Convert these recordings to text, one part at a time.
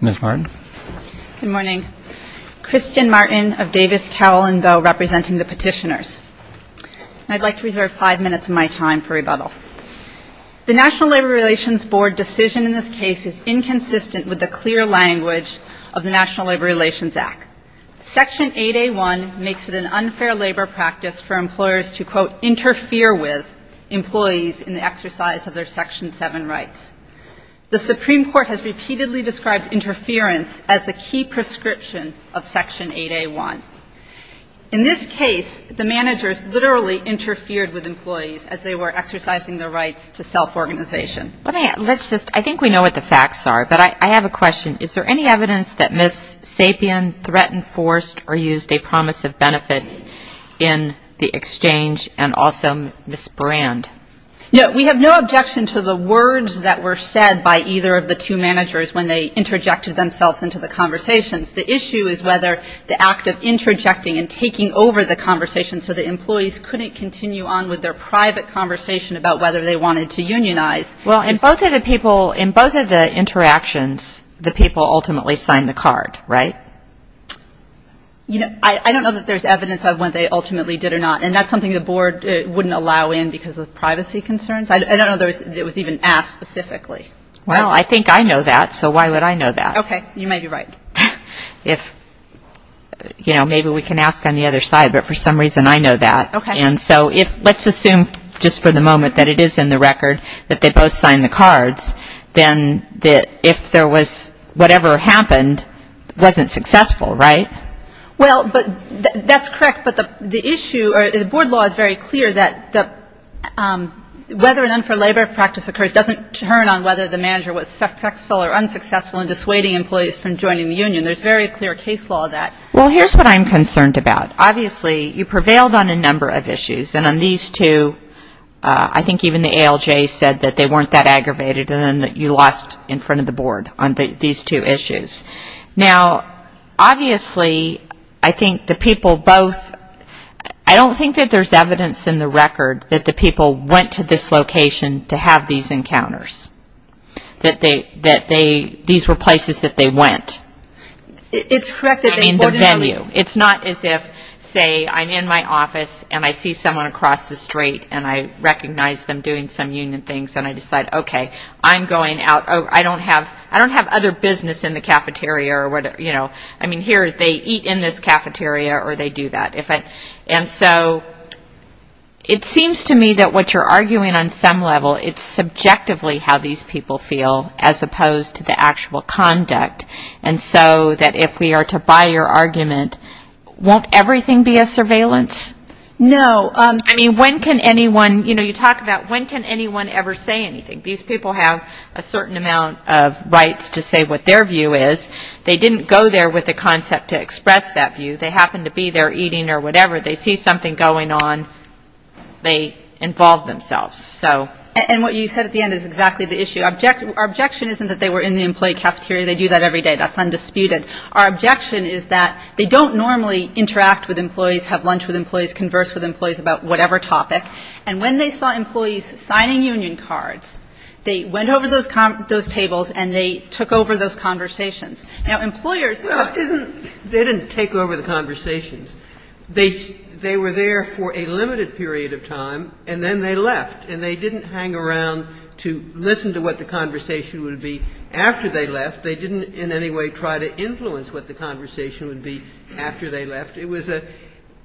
Ms. Martin. Good morning. Christian Martin of Davis Cowell & Boe representing the petitioners. I'd like to reserve five minutes of my time for rebuttal. The National Labor Relations Board decision in this case is inconsistent with the clear language of the National Labor Relations Act. Section 8A1 makes it an unfair labor practice for employers to, quote, repeatedly describe interference as a key prescription of Section 8A1. In this case, the managers literally interfered with employees as they were exercising their rights to self-organization. I think we know what the facts are, but I have a question. Is there any evidence that Ms. Sapien threatened, forced, or used a promise of benefits in the exchange and also Ms. Brand? No, we have no objection to the words that were said by either of the two managers when they interjected themselves into the conversations. The issue is whether the act of interjecting and taking over the conversation so the employees couldn't continue on with their private conversation about whether they wanted to unionize. Well, in both of the people, in both of the interactions, the people ultimately signed the card, right? You know, I don't know that there's evidence of when they ultimately did or not. And that's something the board wouldn't allow in because of privacy concerns. I don't know that it was even asked specifically. Well, I think I know that, so why would I know that? Okay. You may be right. If, you know, maybe we can ask on the other side, but for some reason I know that. Okay. And so if let's assume just for the moment that it is in the record that they both signed the cards, then if there was whatever happened wasn't successful, right? Well, but that's correct. But the issue or the board law is very clear that whether an unfair labor practice occurs doesn't turn on whether the manager was successful or unsuccessful in dissuading employees from joining the union. There's very clear case law of that. Well, here's what I'm concerned about. Obviously, you prevailed on a number of issues. And on these two, I think even the ALJ said that they weren't that aggravated, and then you lost in front of the board on these two issues. Now, obviously, I think the people both, I don't think that there's evidence in the record that the people went to this location to have these encounters, that these were places that they went. It's correct that they boarded up. I mean, the venue. It's not as if, say, I'm in my office and I see someone across the street and I recognize them doing some union things and I decide, okay, I'm going out. I don't have other business in the cafeteria. I mean, here they eat in this cafeteria or they do that. And so it seems to me that what you're arguing on some level, it's subjectively how these people feel as opposed to the actual conduct. And so that if we are to buy your argument, won't everything be a surveillance? No. I mean, when can anyone, you know, you talk about when can anyone ever say anything. These people have a certain amount of rights to say what their view is. They didn't go there with the concept to express that view. They happened to be there eating or whatever. They see something going on. They involve themselves. And what you said at the end is exactly the issue. Our objection isn't that they were in the employee cafeteria. They do that every day. That's undisputed. Our objection is that they don't normally interact with employees, have lunch with employees, converse with employees about whatever topic. And when they saw employees signing union cards, they went over those tables and they took over those conversations. Now, employers. They didn't take over the conversations. They were there for a limited period of time and then they left. And they didn't hang around to listen to what the conversation would be after they left. They didn't in any way try to influence what the conversation would be after they left. It was a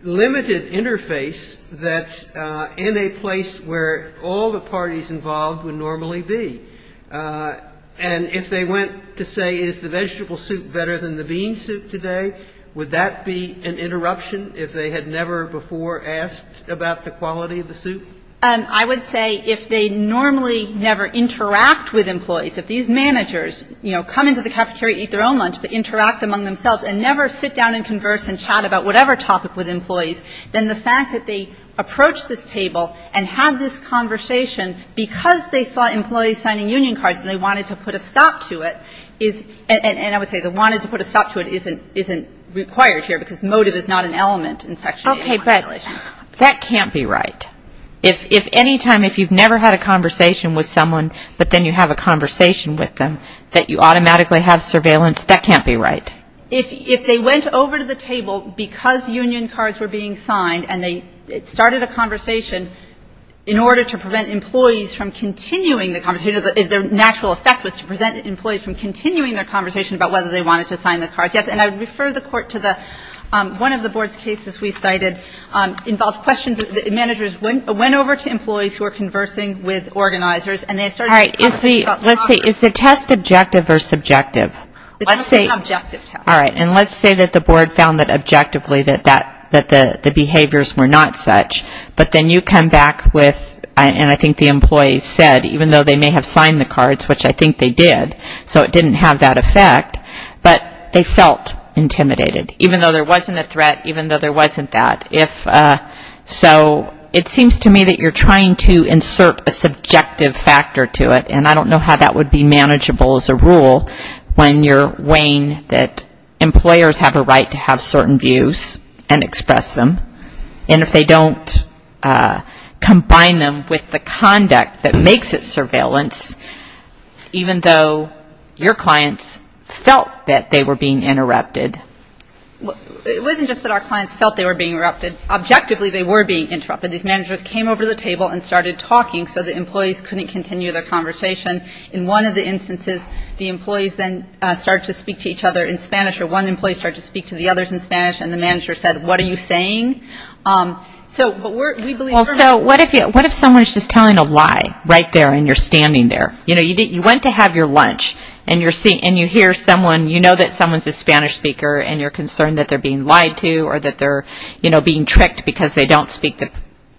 limited interface that in a place where all the parties involved would normally be. And if they went to say is the vegetable soup better than the bean soup today, would that be an interruption if they had never before asked about the quality of the soup? I would say if they normally never interact with employees, if these managers, you know, come into the cafeteria, eat their own lunch, but interact among themselves and never sit down and converse and chat about whatever topic with employees, then the fact that they approached this table and had this conversation because they saw employees signing union cards and they wanted to put a stop to it is, and I would say the wanted to put a stop to it isn't required here because motive is not an element in Section 8. Okay. But that can't be right. If any time, if you've never had a conversation with someone, but then you have a conversation with them that you automatically have surveillance, that can't be right. If they went over to the table because union cards were being signed and they started a conversation in order to prevent employees from continuing the conversation, the natural effect was to prevent employees from continuing their conversation about whether they wanted to sign the cards. Yes. And I would refer the Court to the, one of the Board's cases we cited involved questions, managers went over to employees who were conversing with organizers and they started a conversation. All right. Let's see. Is the test objective or subjective? It's an objective test. All right. And let's say that the Board found that objectively that the behaviors were not such, but then you come back with, and I think the employee said, even though they may have signed the cards, which I think they did, so it didn't have that effect, but they felt intimidated, even though there wasn't a threat, even though there wasn't that. So it seems to me that you're trying to insert a subjective factor to it, and I don't know how that would be manageable as a rule when you're weighing that employers have a right to have certain views and express them, and if they don't combine them with the conduct that makes it surveillance, even though your clients felt that they were being interrupted. It wasn't just that our clients felt they were being interrupted. Objectively they were being interrupted. In one of the instances, the employees then started to speak to each other in Spanish, or one employee started to speak to the others in Spanish, and the manager said, what are you saying? So what if someone is just telling a lie right there and you're standing there? You know, you went to have your lunch and you hear someone, you know that someone is a Spanish speaker and you're concerned that they're being lied to or that they're being tricked because they don't speak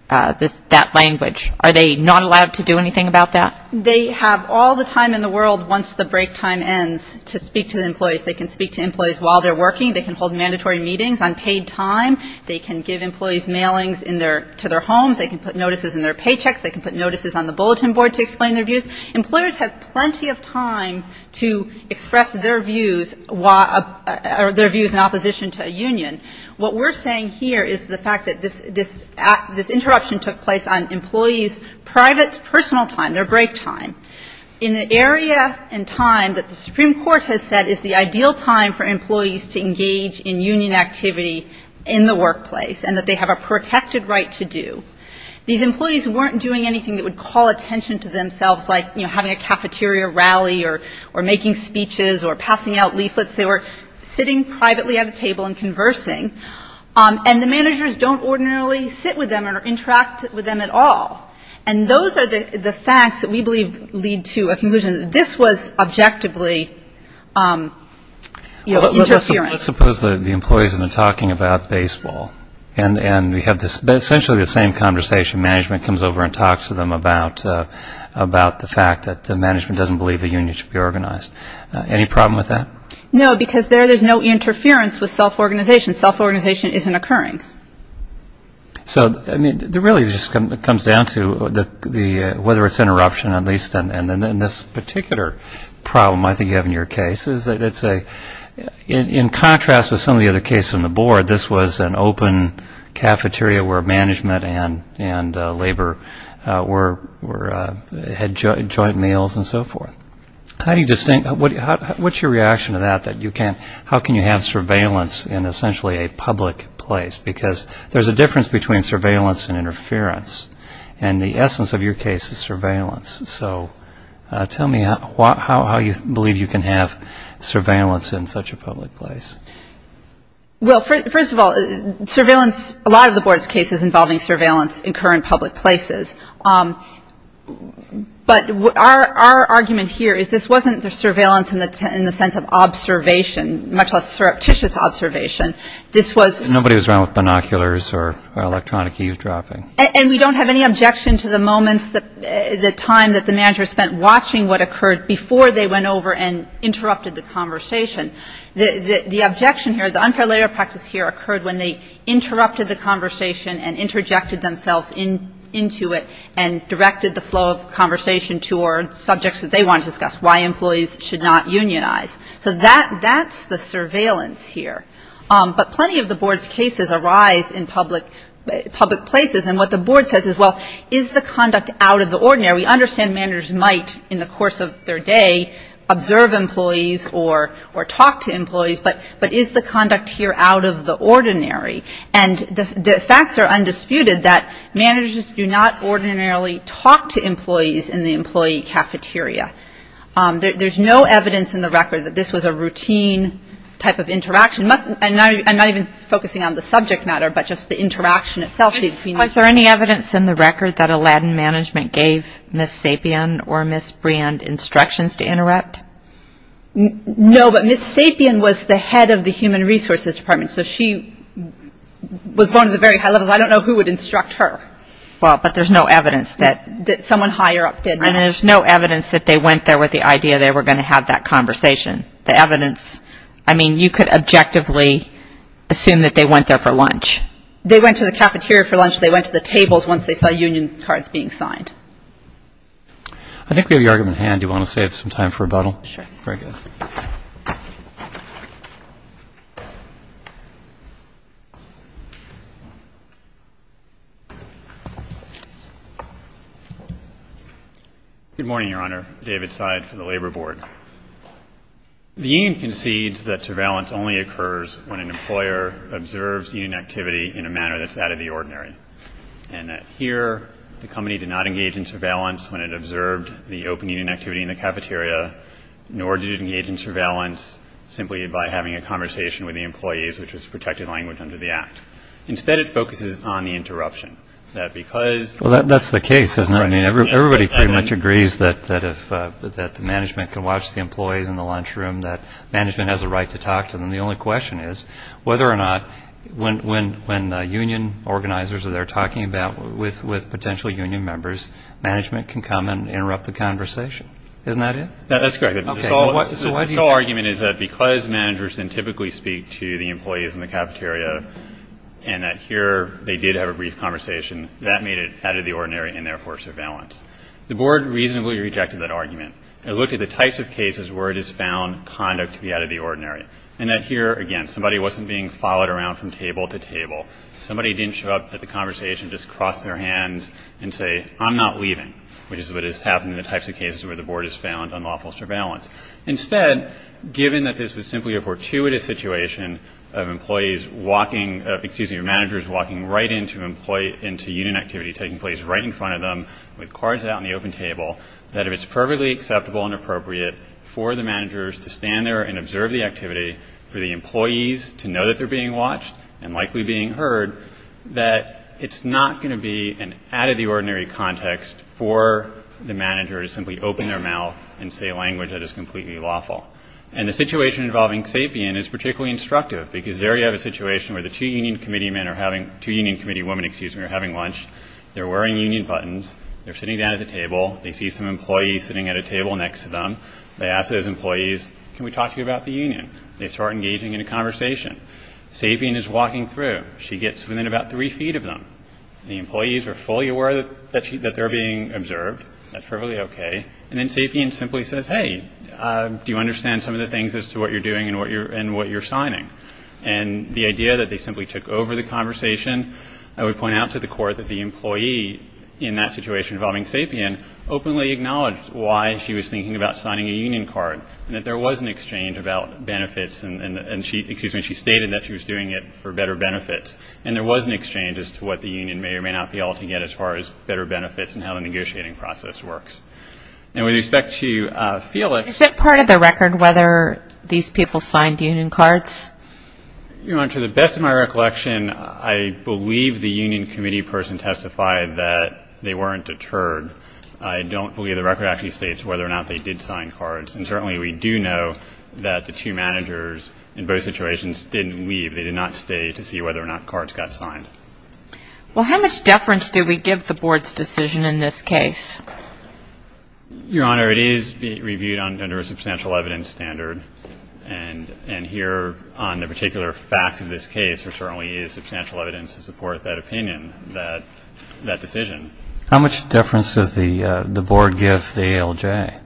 that language. Are they not allowed to do anything about that? They have all the time in the world once the break time ends to speak to the employees. They can speak to employees while they're working. They can hold mandatory meetings on paid time. They can give employees mailings to their homes. They can put notices in their paychecks. They can put notices on the bulletin board to explain their views. What we're saying here is the fact that this interruption took place on employees' private personal time, their break time. In an area and time that the Supreme Court has said is the ideal time for employees to engage in union activity in the workplace and that they have a protected right to do. These employees weren't doing anything that would call attention to themselves like, you know, having a cafeteria rally or making speeches or passing out leaflets. They were sitting privately at a table and conversing. And the managers don't ordinarily sit with them or interact with them at all. And those are the facts that we believe lead to a conclusion that this was objectively, you know, interference. Let's suppose that the employees have been talking about baseball and we have essentially the same conversation. Management comes over and talks to them about the fact that the management doesn't believe a union should be organized. Any problem with that? No, because there there's no interference with self-organization. Self-organization isn't occurring. So, I mean, it really just comes down to whether it's interruption at least and then this particular problem I think you have in your case. In contrast with some of the other cases on the board, this was an open cafeteria where management and labor had joint meals and so forth. What's your reaction to that? How can you have surveillance in essentially a public place? Because there's a difference between surveillance and interference. And the essence of your case is surveillance. So tell me how you believe you can have surveillance in such a public place. Well, first of all, surveillance, a lot of the board's cases involving surveillance occur in public places. But our argument here is this wasn't surveillance in the sense of observation, much less surreptitious observation. This was... Nobody was around with binoculars or electronic eavesdropping. And we don't have any objection to the moments, the time that the manager spent watching what occurred before they went over and interrupted the conversation. The objection here, the unfair labor practice here occurred when they interrupted the conversation and interjected themselves into it and directed the flow of conversation toward subjects that they wanted to discuss, why employees should not unionize. So that's the surveillance here. But plenty of the board's cases arise in public places. And what the board says is, well, is the conduct out of the ordinary? We understand managers might in the course of their day observe employees or talk to employees. But is the conduct here out of the ordinary? And the facts are undisputed that managers do not ordinarily talk to employees in the employee cafeteria. There's no evidence in the record that this was a routine type of interaction. And I'm not even focusing on the subject matter, but just the interaction itself. Is there any evidence in the record that Aladdin Management gave Ms. Sapien or Ms. Brand instructions to interrupt? No, but Ms. Sapien was the head of the Human Resources Department. So she was one of the very high levels. I don't know who would instruct her. Well, but there's no evidence that someone higher up did. And there's no evidence that they went there with the idea they were going to have that conversation. The evidence, I mean, you could objectively assume that they went there for lunch. They went to the cafeteria for lunch. They went to the tables once they saw union cards being signed. I think we have your argument at hand. Do you want to save some time for rebuttal? Sure. Very good. Thank you. Good morning, Your Honor. David Seid for the Labor Board. The union concedes that surveillance only occurs when an employer observes union activity in a manner that's out of the ordinary, and that here the company did not engage in surveillance when it observed the open union activity in the cafeteria, nor did it engage in surveillance simply by having a conversation with the employees, which was protected language under the Act. Instead, it focuses on the interruption. Well, that's the case, isn't it? I mean, everybody pretty much agrees that management can watch the employees in the lunchroom, that management has a right to talk to them. The only question is whether or not when union organizers are there talking with potential union members, management can come and interrupt the conversation. Isn't that it? That's correct. The sole argument is that because managers can typically speak to the employees in the cafeteria and that here they did have a brief conversation, that made it out of the ordinary and therefore surveillance. The Board reasonably rejected that argument. It looked at the types of cases where it has found conduct to be out of the ordinary, and that here, again, somebody wasn't being followed around from table to table. Somebody didn't show up at the conversation, just cross their hands and say, I'm not leaving, which is what has happened in the types of cases where the Board has found unlawful surveillance. Instead, given that this was simply a fortuitous situation of managers walking right into union activity taking place right in front of them with cards out in the open table, that if it's perfectly acceptable and appropriate for the managers to stand there and observe the activity, for the employees to know that they're being watched and likely being heard, that it's not going to be an out of the ordinary context for the managers to simply open their mouth and say language that is completely lawful. And the situation involving Sapien is particularly instructive, because there you have a situation where the two union committee men are having, two union committee women, excuse me, are having lunch. They're wearing union buttons. They're sitting down at the table. They see some employees sitting at a table next to them. They ask those employees, can we talk to you about the union? They start engaging in a conversation. Sapien is walking through. She gets within about three feet of them. The employees are fully aware that they're being observed. That's perfectly okay. And then Sapien simply says, hey, do you understand some of the things as to what you're doing and what you're signing? And the idea that they simply took over the conversation, I would point out to the Court that the employee in that situation involving Sapien openly acknowledged why she was thinking about signing a union card, and that there was an exchange about benefits. And she stated that she was doing it for better benefits. And there was an exchange as to what the union may or may not be able to get as far as better benefits and how the negotiating process works. And with respect to Felix. Is it part of the record whether these people signed union cards? To the best of my recollection, I believe the union committee person testified that they weren't deterred. I don't believe the record actually states whether or not they did sign cards. And certainly we do know that the two managers in both situations didn't leave. They did not stay to see whether or not cards got signed. Well, how much deference do we give the Board's decision in this case? Your Honor, it is reviewed under a substantial evidence standard. And here on the particular facts of this case, there certainly is substantial evidence to support that opinion, that decision. How much deference does the Board give the ALJ?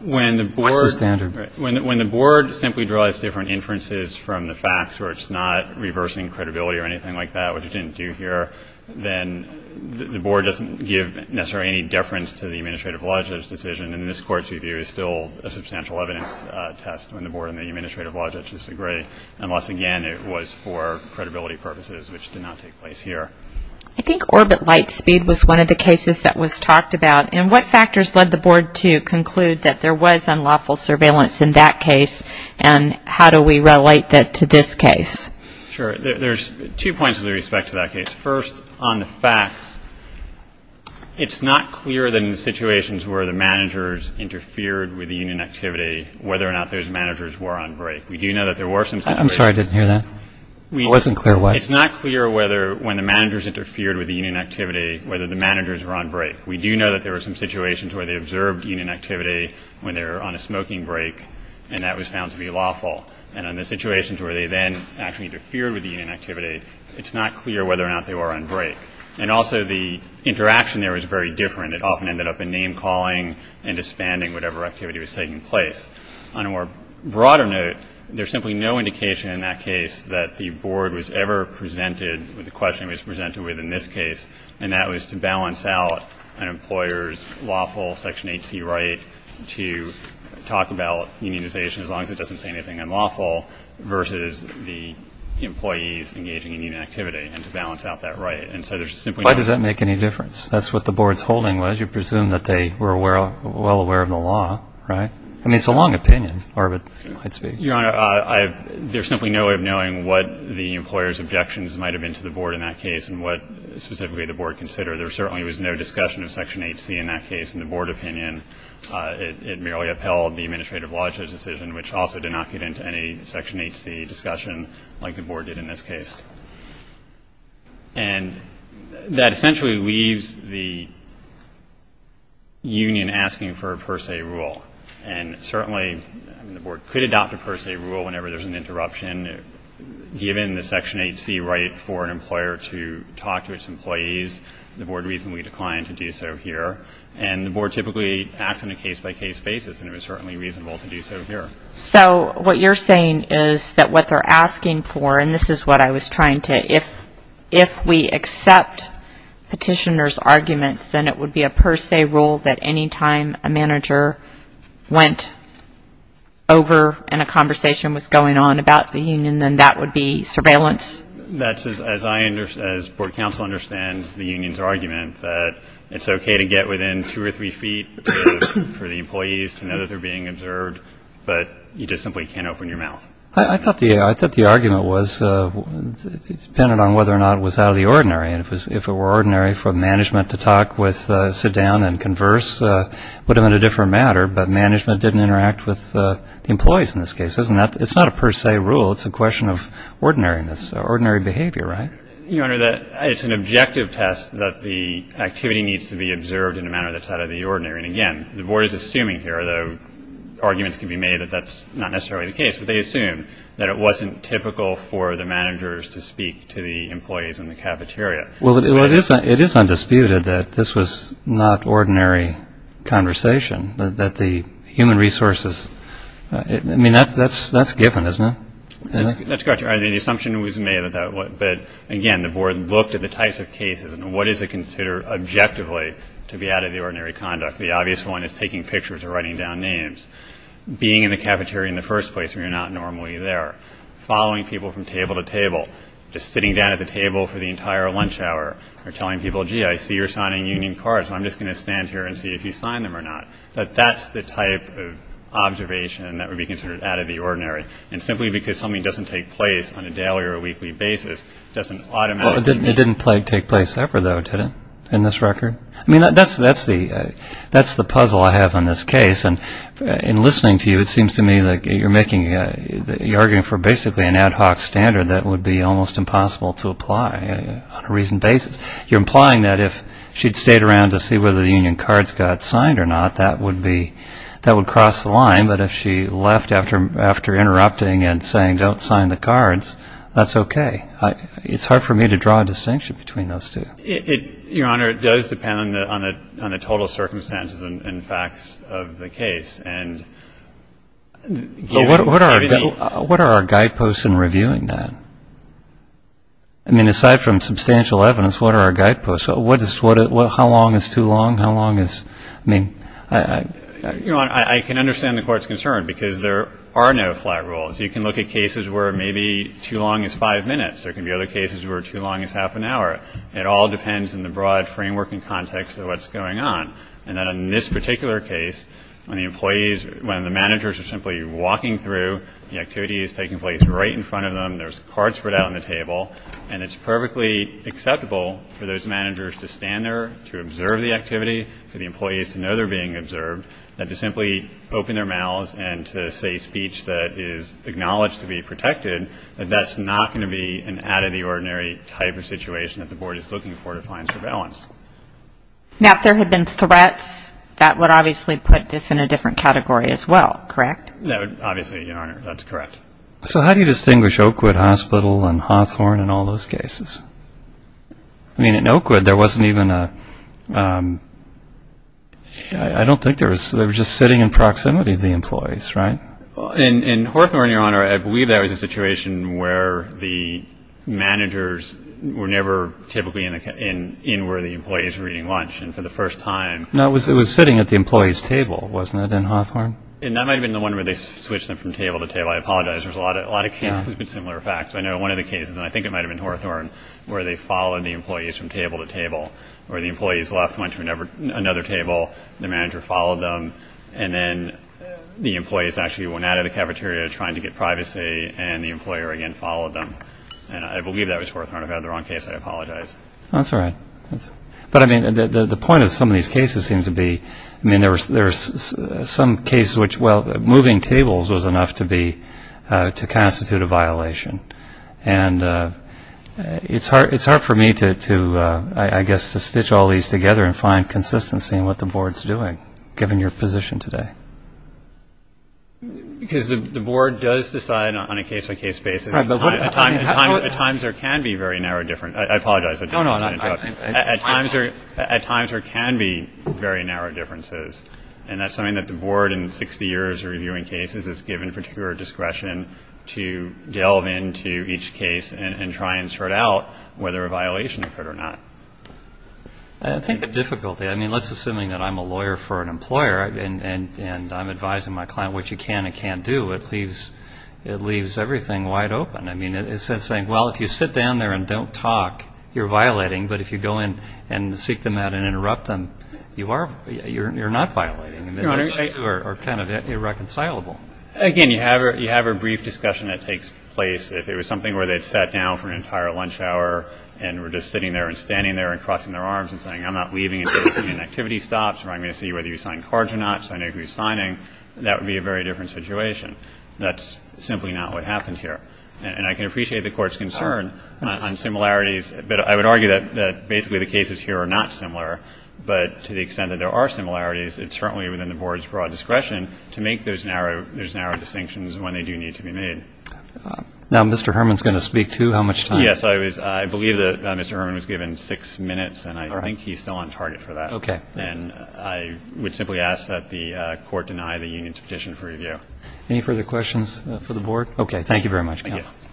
What's the standard? When the Board simply draws different inferences from the facts where it's not reversing credibility or anything like that, which it didn't do here, then the Board doesn't give necessarily any deference to the administrative logic of this decision. And this Court's review is still a substantial evidence test when the Board and the administrative logic disagree. Unless, again, it was for credibility purposes, which did not take place here. I think orbit light speed was one of the cases that was talked about. And what factors led the Board to conclude that there was unlawful surveillance in that case? And how do we relate that to this case? Sure. There's two points with respect to that case. First on the facts, it's not clear in the situations where the managers interfered with the unit activity whether or not those managers were on break. I'm sorry, I didn't hear that. It wasn't clear what? It's not clear whether when the managers interfered with the unit activity whether the managers were on break. We do know that there were some situations where they observed unit activity when they were on a smoking break, and that was found to be lawful. And in the situations where they then actually interfered with the unit activity, it's not clear whether or not they were on break. And also the interaction there was very different. It often ended up in name calling and disbanding whatever activity was taking place. On a more broader note, there's simply no indication in that case that the board was ever presented with the question it was presented with in this case, and that was to balance out an employer's lawful Section 8C right to talk about unionization, as long as it doesn't say anything unlawful, versus the employees engaging in union activity and to balance out that right. And so there's simply no ---- Why does that make any difference? That's what the board's holding was. You presume that they were well aware of the law, right? I mean, it's a long opinion, I'd say. Your Honor, there's simply no way of knowing what the employer's objections might have been to the board in that case and what specifically the board considered. There certainly was no discussion of Section 8C in that case in the board opinion. It merely upheld the Administrative Logistics decision, which also did not get into any Section 8C discussion like the board did in this case. And that essentially leaves the union asking for a per se rule. And certainly the board could adopt a per se rule whenever there's an interruption. Given the Section 8C right for an employer to talk to its employees, the board reasonably declined to do so here. And the board typically acts on a case-by-case basis, and it was certainly reasonable to do so here. So what you're saying is that what they're asking for, and this is what I was trying to ---- if we accept petitioner's arguments, then it would be a per se rule that any time a manager went over and a conversation was going on about the union, then that would be surveillance? As board counsel understands the union's argument, that it's okay to get within two or three feet for the employees to know that they're being observed, but you just simply can't open your mouth. I thought the argument was it depended on whether or not it was out of the ordinary. And if it were ordinary for management to sit down and converse, it would have been a different matter. But management didn't interact with the employees in this case. It's not a per se rule. It's a question of ordinariness, ordinary behavior, right? Your Honor, it's an objective test that the activity needs to be observed in a manner that's out of the ordinary. And again, the board is assuming here, though arguments can be made that that's not necessarily the case, but they assume that it wasn't typical for the managers to speak to the employees in the cafeteria. Well, it is undisputed that this was not ordinary conversation, that the human resources ---- I mean, that's given, isn't it? That's correct. I mean, the assumption was made that that was, but again, the board looked at the types of cases and what is it considered objectively to be out of the ordinary conduct. The obvious one is taking pictures or writing down names, being in the cafeteria in the first place when you're not normally there, following people from table to table, just sitting down at the table for the entire lunch hour or telling people, gee, I see you're signing union cards, so I'm just going to stand here and see if you sign them or not. But that's the type of observation that would be considered out of the ordinary. And simply because something doesn't take place on a daily or weekly basis doesn't automatically ---- Well, it didn't take place ever, though, did it, in this record? I mean, that's the puzzle I have on this case. And in listening to you, it seems to me that you're making ---- you're arguing for basically an ad hoc standard that would be almost impossible to apply on a recent basis. You're implying that if she'd stayed around to see whether the union cards got signed or not, that would be ---- that would cross the line. But if she left after interrupting and saying, don't sign the cards, that's okay. It's hard for me to draw a distinction between those two. Your Honor, it does depend on the total circumstances and facts of the case. But what are our guideposts in reviewing that? I mean, aside from substantial evidence, what are our guideposts? How long is too long? How long is ---- I mean, I ---- Your Honor, I can understand the Court's concern because there are no flat rules. You can look at cases where maybe too long is five minutes. There can be other cases where too long is half an hour. It all depends on the broad framework and context of what's going on. And then in this particular case, when the employees ---- when the managers are simply walking through, the activity is taking place right in front of them. There's cards spread out on the table. And it's perfectly acceptable for those managers to stand there, to observe the activity, for the employees to know they're being observed, and to simply open their mouths and to say speech that is acknowledged to be protected, that that's not going to be an out-of-the-ordinary type of situation that the Board is looking for to find surveillance. Now, if there had been threats, that would obviously put this in a different category as well, correct? No, obviously, Your Honor, that's correct. So how do you distinguish Oakwood Hospital and Hawthorne and all those cases? I mean, in Oakwood, there wasn't even a ---- I don't think there was ---- they were just sitting in proximity to the employees, right? In Hawthorne, Your Honor, I believe there was a situation where the managers were never typically in where the employees were eating lunch. And for the first time ---- No, it was sitting at the employees' table, wasn't it, in Hawthorne? And that might have been the one where they switched them from table to table. I apologize, there's a lot of cases with similar facts. I know one of the cases, and I think it might have been Hawthorne, where they followed the employees from table to table, where the employees left, went to another table, the manager followed them, and then the employees actually went out of the cafeteria trying to get privacy, and the employer again followed them. And I believe that was Hawthorne. If I have the wrong case, I apologize. That's all right. But, I mean, the point of some of these cases seems to be, I mean, there's some cases which, well, moving tables was enough to constitute a violation. And it's hard for me to, I guess, to stitch all these together and find consistency in what the Board's doing, given your position today. Because the Board does decide on a case-by-case basis. At times there can be very narrow differences. I apologize. At times there can be very narrow differences. And that's something that the Board, in 60 years of reviewing cases, has given particular discretion to delve into each case and try and sort out whether a violation occurred or not. I think the difficulty, I mean, let's assume that I'm a lawyer for an employer, and I'm advising my client what you can and can't do. It leaves everything wide open. I mean, it's like saying, well, if you sit down there and don't talk, you're violating. But if you go in and seek them out and interrupt them, you're not violating. Those two are kind of irreconcilable. Again, you have a brief discussion that takes place. If it was something where they'd sat down for an entire lunch hour and were just sitting there and standing there and crossing their arms and saying, I'm not leaving until this activity stops or I'm going to see whether you sign cards or not so I know who's signing, that would be a very different situation. That's simply not what happened here. And I can appreciate the Court's concern on similarities, but I would argue that basically the cases here are not similar. But to the extent that there are similarities, it's certainly within the Board's broad discretion to make those narrow distinctions when they do need to be made. Now, Mr. Herman's going to speak, too. How much time? Yes, I believe that Mr. Herman was given six minutes, and I think he's still on target for that. Okay. And I would simply ask that the Court deny the union's petition for review. Any further questions for the Board? Okay, thank you very much, counsel. Thank you.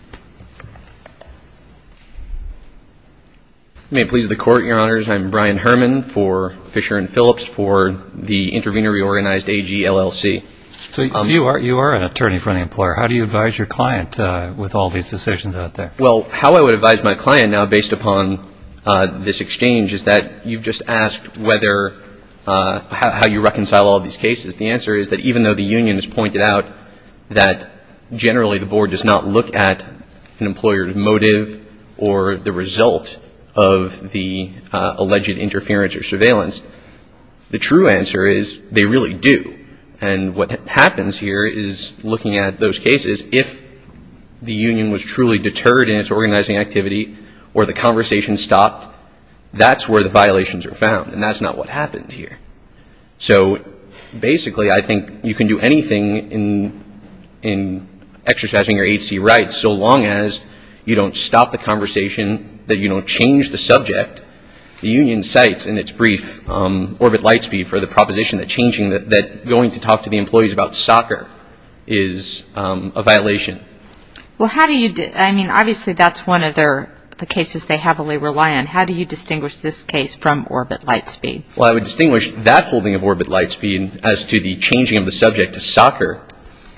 May it please the Court, Your Honors, I'm Brian Herman for Fisher & Phillips for the Intervenor Reorganized AG LLC. So you are an attorney for an employer. How do you advise your client with all these decisions out there? Well, how I would advise my client now, based upon this exchange, is that you've just asked how you reconcile all these cases. The answer is that even though the union has pointed out that, generally, the Board does not look at an employer's motive or the result of the alleged interference or surveillance, the true answer is they really do. And what happens here is, looking at those cases, if the union was truly deterred in its organizing activity or the conversation stopped, that's where the violations are found, and that's not what happened here. So, basically, I think you can do anything in exercising your agency rights so long as you don't stop the conversation, that you don't change the subject. The union cites in its brief Orbit Lightspeed for the proposition that going to talk to the employees about soccer is a violation. Well, how do you do it? I mean, obviously, that's one of the cases they heavily rely on. How do you distinguish this case from Orbit Lightspeed? Well, I would distinguish that holding of Orbit Lightspeed as to the changing of the subject to soccer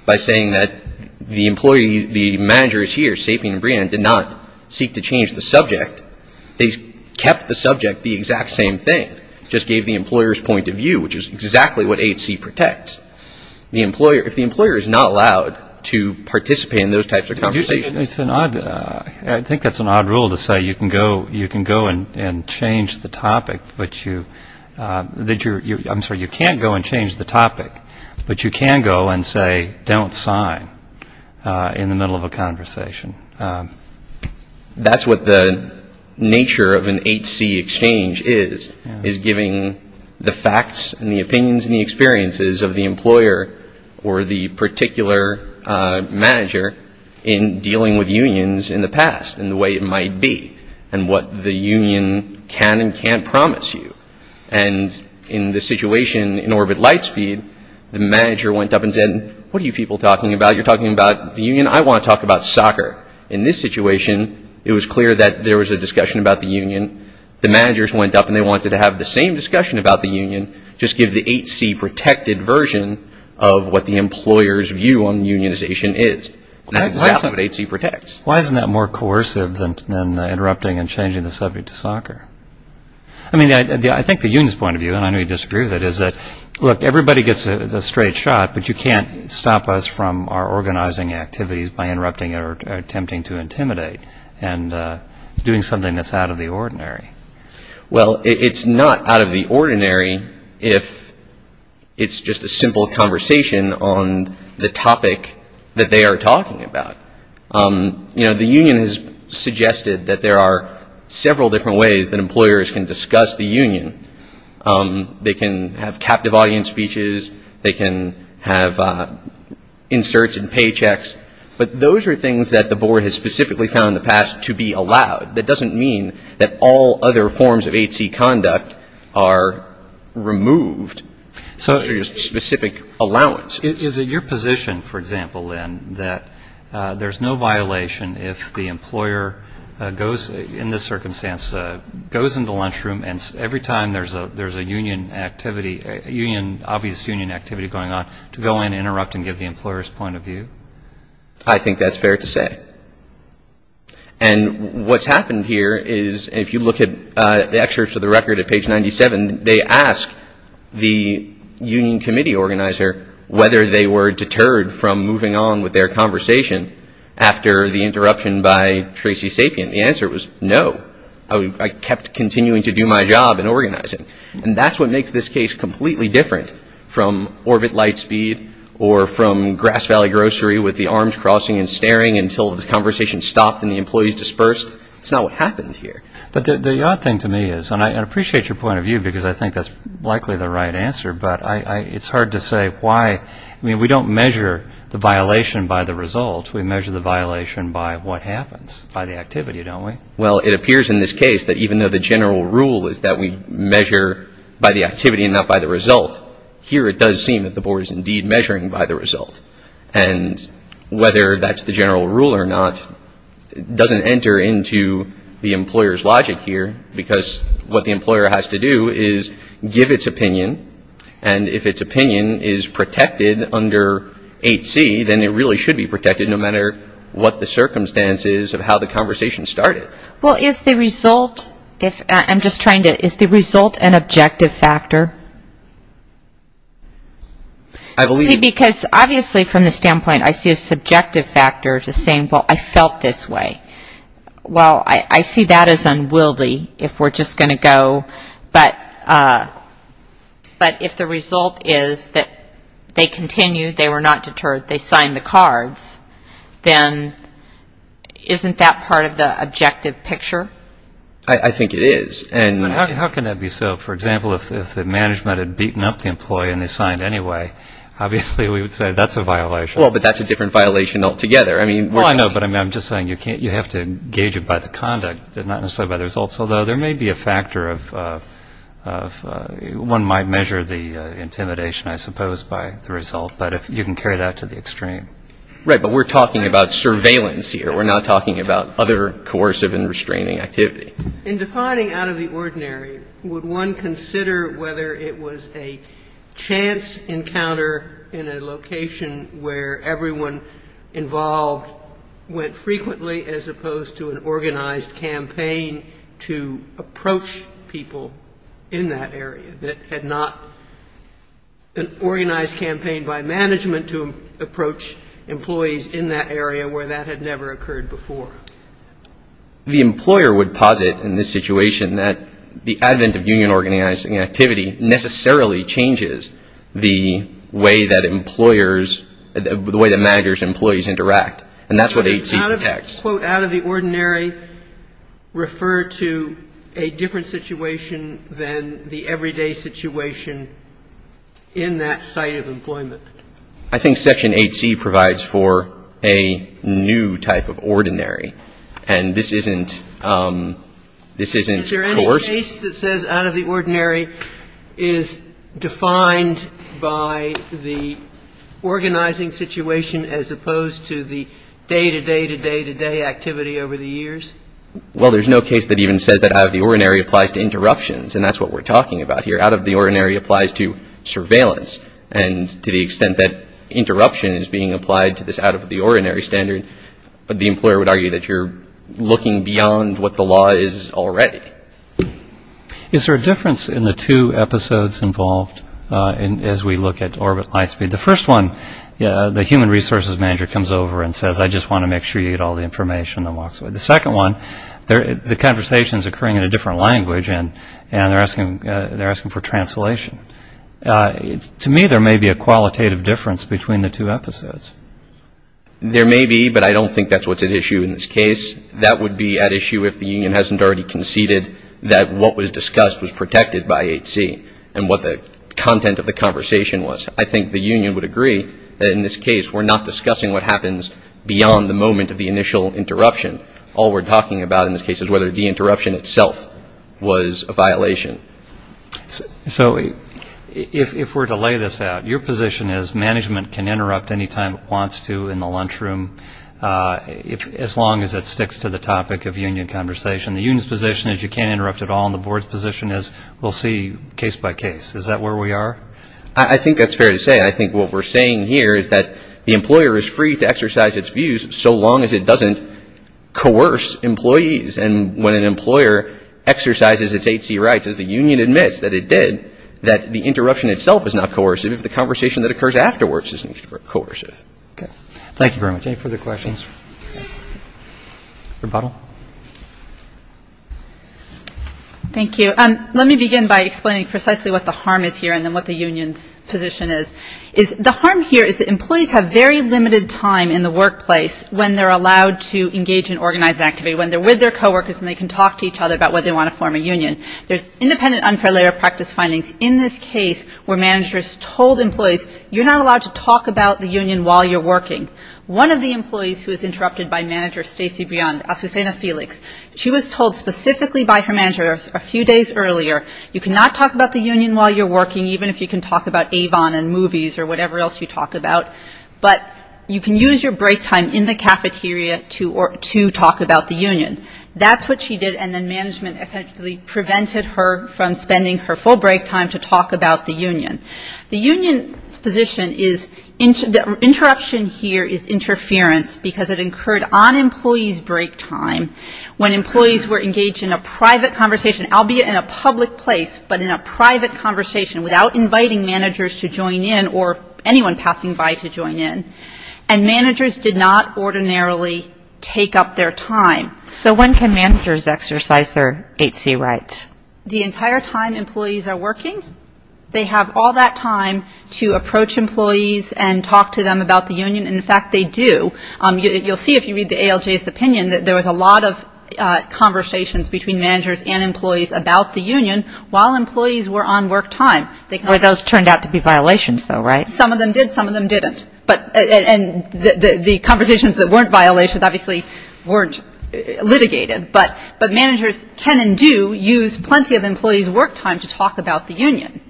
by saying that the employee, the managers here, Sapien and Brien, did not seek to change the subject. They kept the subject the exact same thing, just gave the employer's point of view, which is exactly what AHC protects. If the employer is not allowed to participate in those types of conversations. I think that's an odd rule to say you can go and change the topic, but you can't go and change the topic, but you can go and say don't sign in the middle of a conversation. That's what the nature of an AHC exchange is, is giving the facts and the opinions and the experiences of the employer or the particular manager in dealing with unions in the past and the way it might be and what the union can and can't promise you. And in the situation in Orbit Lightspeed, the manager went up and said, what are you people talking about? You're talking about the union? I want to talk about soccer. In this situation, it was clear that there was a discussion about the union. The managers went up and they wanted to have the same discussion about the union, just give the AHC protected version of what the employer's view on unionization is. That's exactly what AHC protects. Why isn't that more coercive than interrupting and changing the subject to soccer? I mean, I think the union's point of view, and I know you disagree with it, is that, look, everybody gets a straight shot, but you can't stop us from our organizing activities by interrupting or attempting to intimidate and doing something that's out of the ordinary. Well, it's not out of the ordinary if it's just a simple conversation on the topic that they are talking about. You know, the union has suggested that there are several different ways that employers can discuss the union. They can have captive audience speeches. They can have inserts and paychecks. But those are things that the board has specifically found in the past to be allowed. That doesn't mean that all other forms of AHC conduct are removed. Those are just specific allowances. Is it your position, for example, then, that there's no violation if the employer goes, in this circumstance, goes in the lunchroom, and every time there's a union activity, obvious union activity going on, to go in, interrupt, and give the employer's point of view? I think that's fair to say. And what's happened here is, if you look at the excerpts of the record at page 97, they ask the union committee organizer whether they were deterred from moving on with their conversation after the interruption by Tracy Sapien. The answer was no. I kept continuing to do my job in organizing. And that's what makes this case completely different from Orbit Lightspeed or from Grass Valley Grocery with the arms crossing and staring until the conversation stopped and the employees dispersed. It's not what happened here. But the odd thing to me is, and I appreciate your point of view, because I think that's likely the right answer, but it's hard to say why. I mean, we don't measure the violation by the result. We measure the violation by what happens, by the activity, don't we? Well, it appears in this case that even though the general rule is that we measure by the activity and not by the result, here it does seem that the board is indeed measuring by the result. And whether that's the general rule or not doesn't enter into the employer's logic here, because what the employer has to do is give its opinion, and if its opinion is protected under 8C, then it really should be protected no matter what the circumstances of how the conversation started. Well, is the result, I'm just trying to, is the result an objective factor? See, because obviously from the standpoint I see a subjective factor to saying, well, I felt this way. Well, I see that as unwieldy if we're just going to go, but if the result is that they continued, they were not deterred, they signed the cards, then isn't that part of the objective picture? I think it is. How can that be so? For example, if the management had beaten up the employee and they signed anyway, obviously we would say that's a violation. Well, but that's a different violation altogether. Well, I know, but I'm just saying you have to gauge it by the conduct and not necessarily by the results, although there may be a factor of one might measure the intimidation, I suppose, by the result, but you can carry that to the extreme. Right, but we're talking about surveillance here. We're not talking about other coercive and restraining activity. In defining out of the ordinary, would one consider whether it was a chance encounter in a location where everyone involved went frequently as opposed to an organized campaign to approach people in that area that had not been organized campaign by management to approach employees in that area where that had never occurred before? The employer would posit in this situation that the advent of union organizing activity necessarily changes the way that employers, the way that managers and employees interact, and that's what 8c protects. So does out of the ordinary refer to a different situation than the everyday situation in that site of employment? I think section 8c provides for a new type of ordinary, and this isn't coercive. Is there any case that says out of the ordinary is defined by the organizing situation as opposed to the day-to-day-to-day-to-day activity over the years? Well, there's no case that even says that out of the ordinary applies to interruptions, and that's what we're talking about here. Out of the ordinary applies to surveillance, and to the extent that interruption is being applied to this out of the ordinary standard, the employer would argue that you're looking beyond what the law is already. Is there a difference in the two episodes involved as we look at orbit light speed? The first one, the human resources manager comes over and says, I just want to make sure you get all the information, and walks away. The second one, the conversation is occurring in a different language, and they're asking for translation. To me, there may be a qualitative difference between the two episodes. There may be, but I don't think that's what's at issue in this case. That would be at issue if the union hasn't already conceded that what was discussed was protected by 8c, and what the content of the conversation was. I think the union would agree that in this case, we're not discussing what happens beyond the moment of the initial interruption. All we're talking about in this case is whether the interruption itself was a violation. So if we're to lay this out, your position is management can interrupt any time it wants to in the lunchroom, as long as it sticks to the topic of union conversation. The union's position is you can't interrupt at all, and the board's position is we'll see case by case. Is that where we are? I think that's fair to say. I think what we're saying here is that the employer is free to exercise its views, so long as it doesn't coerce employees. And when an employer exercises its 8c rights, as the union admits that it did, that the interruption itself is not coercive if the conversation that occurs afterwards isn't coercive. Okay. Thank you very much. Any further questions? Rebuttal. Thank you. Let me begin by explaining precisely what the harm is here and then what the union's position is. The harm here is that employees have very limited time in the workplace when they're allowed to engage in organized activity, when they're with their co-workers and they can talk to each other about whether they want to form a union. There's independent unfair labor practice findings in this case where managers told employees, you're not allowed to talk about the union while you're working. One of the employees who was interrupted by manager Stacey Briand, Susana Felix, she was told specifically by her manager a few days earlier, you cannot talk about the union while you're working, even if you can talk about Avon and movies or whatever else you talk about, but you can use your break time in the cafeteria to talk about the union. That's what she did. And then management essentially prevented her from spending her full break time to talk about the union. The union's position is the interruption here is interference because it incurred on employees' break time when employees were engaged in a private conversation, albeit in a public place, but in a private conversation, without inviting managers to join in or anyone passing by to join in. And managers did not ordinarily take up their time. So when can managers exercise their 8C rights? The entire time employees are working, they have all that time to approach employees and talk to them about the union. And, in fact, they do. You'll see if you read the ALJ's opinion that there was a lot of conversations between managers and employees about the union while employees were on work time. Those turned out to be violations, though, right? Some of them did. Some of them didn't. And the conversations that weren't violations obviously weren't litigated. But managers can and do use plenty of employees' work time to talk about the union.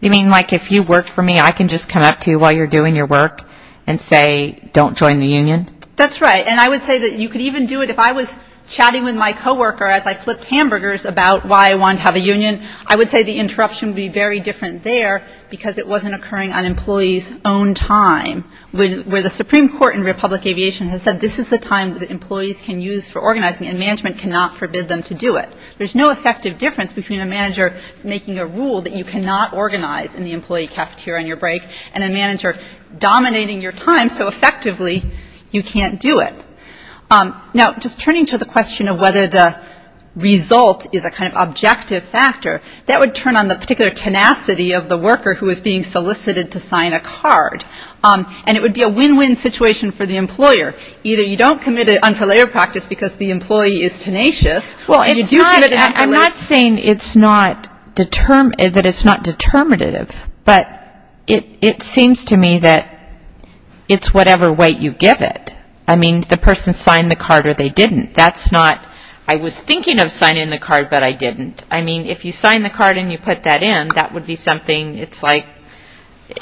You mean like if you work for me, I can just come up to you while you're doing your work and say don't join the union? That's right. And I would say that you could even do it if I was chatting with my co-worker as I flipped hamburgers about why I wanted to have a union. I would say the interruption would be very different there because it wasn't occurring on employees' own time, where the Supreme Court in Republic Aviation has said this is the time that employees can use for organizing and management cannot forbid them to do it. There's no effective difference between a manager making a rule that you cannot organize in the employee cafeteria on your break and a manager dominating your time so effectively you can't do it. Now, just turning to the question of whether the result is a kind of objective factor, that would turn on the particular tenacity of the worker who is being solicited to sign a card. And it would be a win-win situation for the employer. Either you don't commit it until later practice because the employee is tenacious. Well, I'm not saying that it's not determinative, but it seems to me that it's whatever weight you give it. I mean, the person signed the card or they didn't. That's not, I was thinking of signing the card, but I didn't. I mean, if you sign the card and you put that in, that would be something, it's like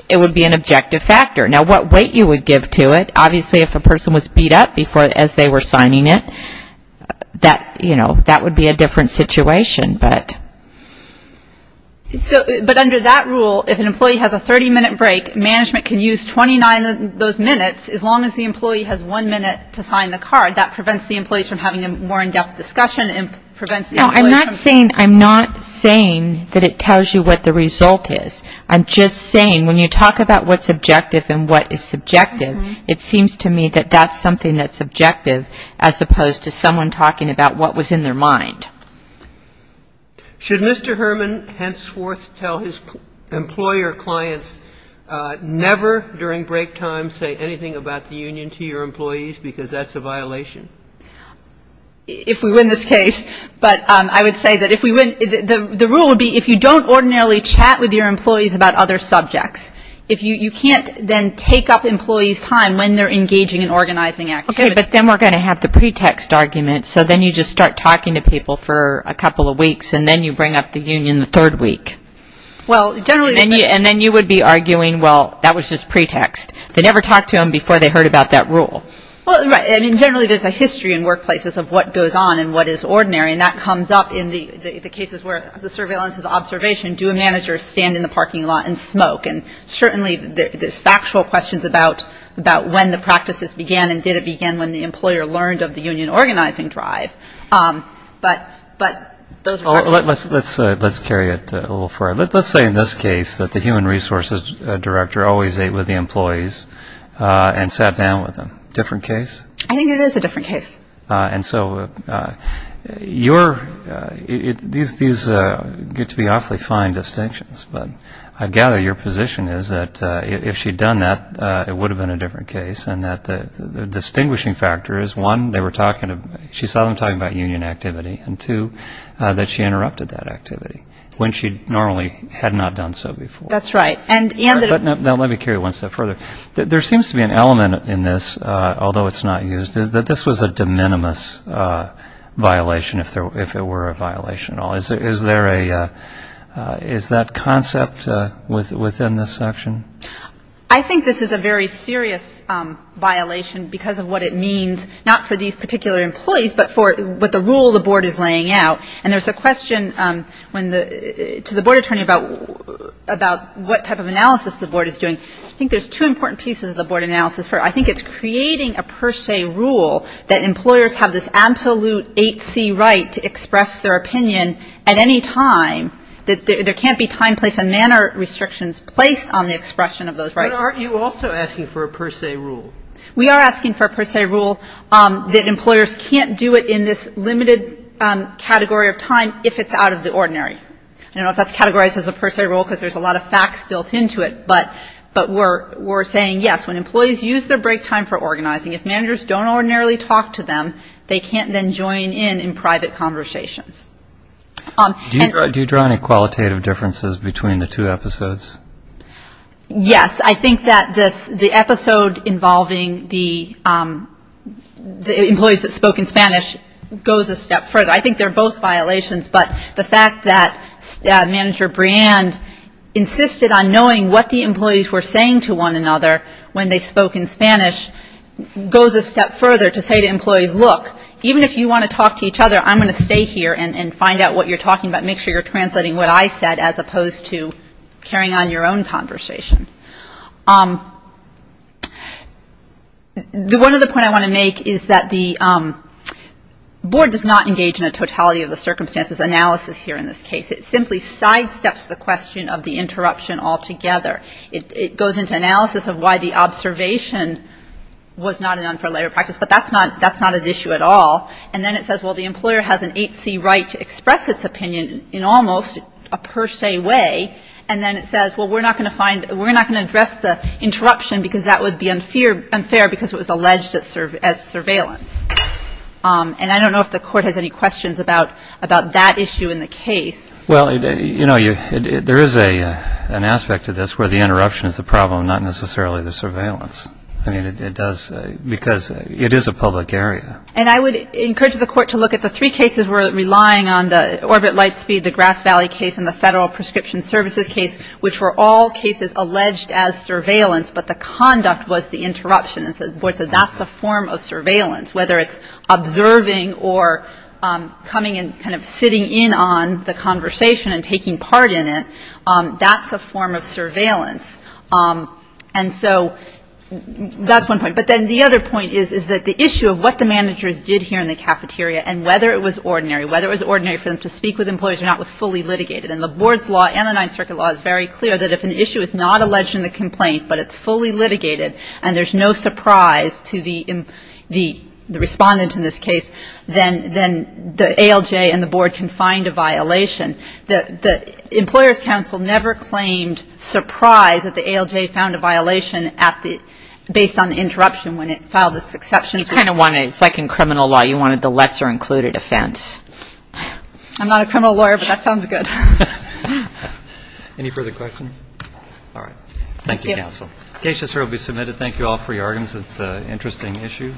it would be an objective factor. Now, what weight you would give to it, obviously if a person was beat up as they were signing it, that would be a different situation. But under that rule, if an employee has a 30-minute break, management can use 29 of those minutes as long as the employee has one minute to sign the card. That prevents the employees from having a more in-depth discussion. No, I'm not saying that it tells you what the result is. I'm just saying when you talk about what's objective and what is subjective, it seems to me that that's something that's objective, as opposed to someone talking about what was in their mind. Should Mr. Herman henceforth tell his employer clients, never during break time say anything about the union to your employees because that's a violation? If we win this case, but I would say that if we win, the rule would be if you don't ordinarily chat with your employees about other subjects, you can't then take up employees' time when they're engaging in organizing activities. Okay, but then we're going to have the pretext argument, so then you just start talking to people for a couple of weeks and then you bring up the union the third week. And then you would be arguing, well, that was just pretext. They never talked to them before they heard about that rule. Right. I mean, generally there's a history in workplaces of what goes on and what is ordinary, and that comes up in the cases where the surveillance is observation. Do a manager stand in the parking lot and smoke? And certainly there's factual questions about when the practices began and did it begin when the employer learned of the union organizing drive. But those are all true. Let's carry it a little further. Let's say in this case that the human resources director always ate with the employees and sat down with them. Different case? I think it is a different case. And so these get to be awfully fine distinctions. But I gather your position is that if she had done that, it would have been a different case and that the distinguishing factor is, one, she saw them talking about union activity, and, two, that she interrupted that activity when she normally had not done so before. That's right. Now let me carry it one step further. There seems to be an element in this, although it's not used, that this was a de minimis violation if it were a violation at all. Is that concept within this section? I think this is a very serious violation because of what it means not for these particular employees but for what the rule the board is laying out. And there's a question to the board attorney about what type of analysis the board is doing. I think there's two important pieces of the board analysis. First, I think it's creating a per se rule that employers have this absolute 8C right to express their opinion at any time. There can't be time, place and manner restrictions placed on the expression of those rights. But aren't you also asking for a per se rule? We are asking for a per se rule that employers can't do it in this limited category of time if it's out of the ordinary. I don't know if that's categorized as a per se rule because there's a lot of facts built into it. But we're saying, yes, when employees use their break time for organizing, if managers don't ordinarily talk to them, they can't then join in in private conversations. Do you draw any qualitative differences between the two episodes? Yes. I think that the episode involving the employees that spoke in Spanish goes a step further. I think they're both violations. But the fact that Manager Briand insisted on knowing what the employees were saying to one another when they spoke in Spanish goes a step further to say to employees, look, even if you want to talk to each other, I'm going to stay here and find out what you're talking about. Make sure you're translating what I said as opposed to carrying on your own conversation. One other point I want to make is that the board does not engage in a totality of the circumstances analysis here in this case. It simply sidesteps the question of the interruption altogether. It goes into analysis of why the observation was not an unfair labor practice. But that's not an issue at all. And then it says, well, the employer has an 8C right to express its opinion in almost a per se way. And then it says, well, we're not going to address the interruption because that would be unfair because it was alleged as surveillance. And I don't know if the Court has any questions about that issue in the case. Well, you know, there is an aspect to this where the interruption is the problem, not necessarily the surveillance. I mean, it does because it is a public area. And I would encourage the Court to look at the three cases we're relying on, the Orbit Lightspeed, the Grass Valley case, and the Federal Prescription Services case, which were all cases alleged as surveillance, but the conduct was the interruption. And so the board said that's a form of surveillance, whether it's observing or coming and kind of sitting in on the conversation and taking part in it, that's a form of surveillance. And so that's one point. But then the other point is, is that the issue of what the managers did here in the cafeteria and whether it was ordinary, whether it was ordinary for them to speak with employees or not, was fully litigated. And the board's law and the Ninth Circuit law is very clear that if an issue is not alleged in the complaint but it's fully litigated and there's no surprise to the respondent in this case, then the ALJ and the board can find a violation. The Employers' Council never claimed surprise that the ALJ found a violation based on the interruption when it filed its exceptions. It's like in criminal law. You wanted the lesser included offense. I'm not a criminal lawyer, but that sounds good. Any further questions? All right. Thank you, counsel. The case just here will be submitted. Thank you all for your arguments. It's an interesting issue.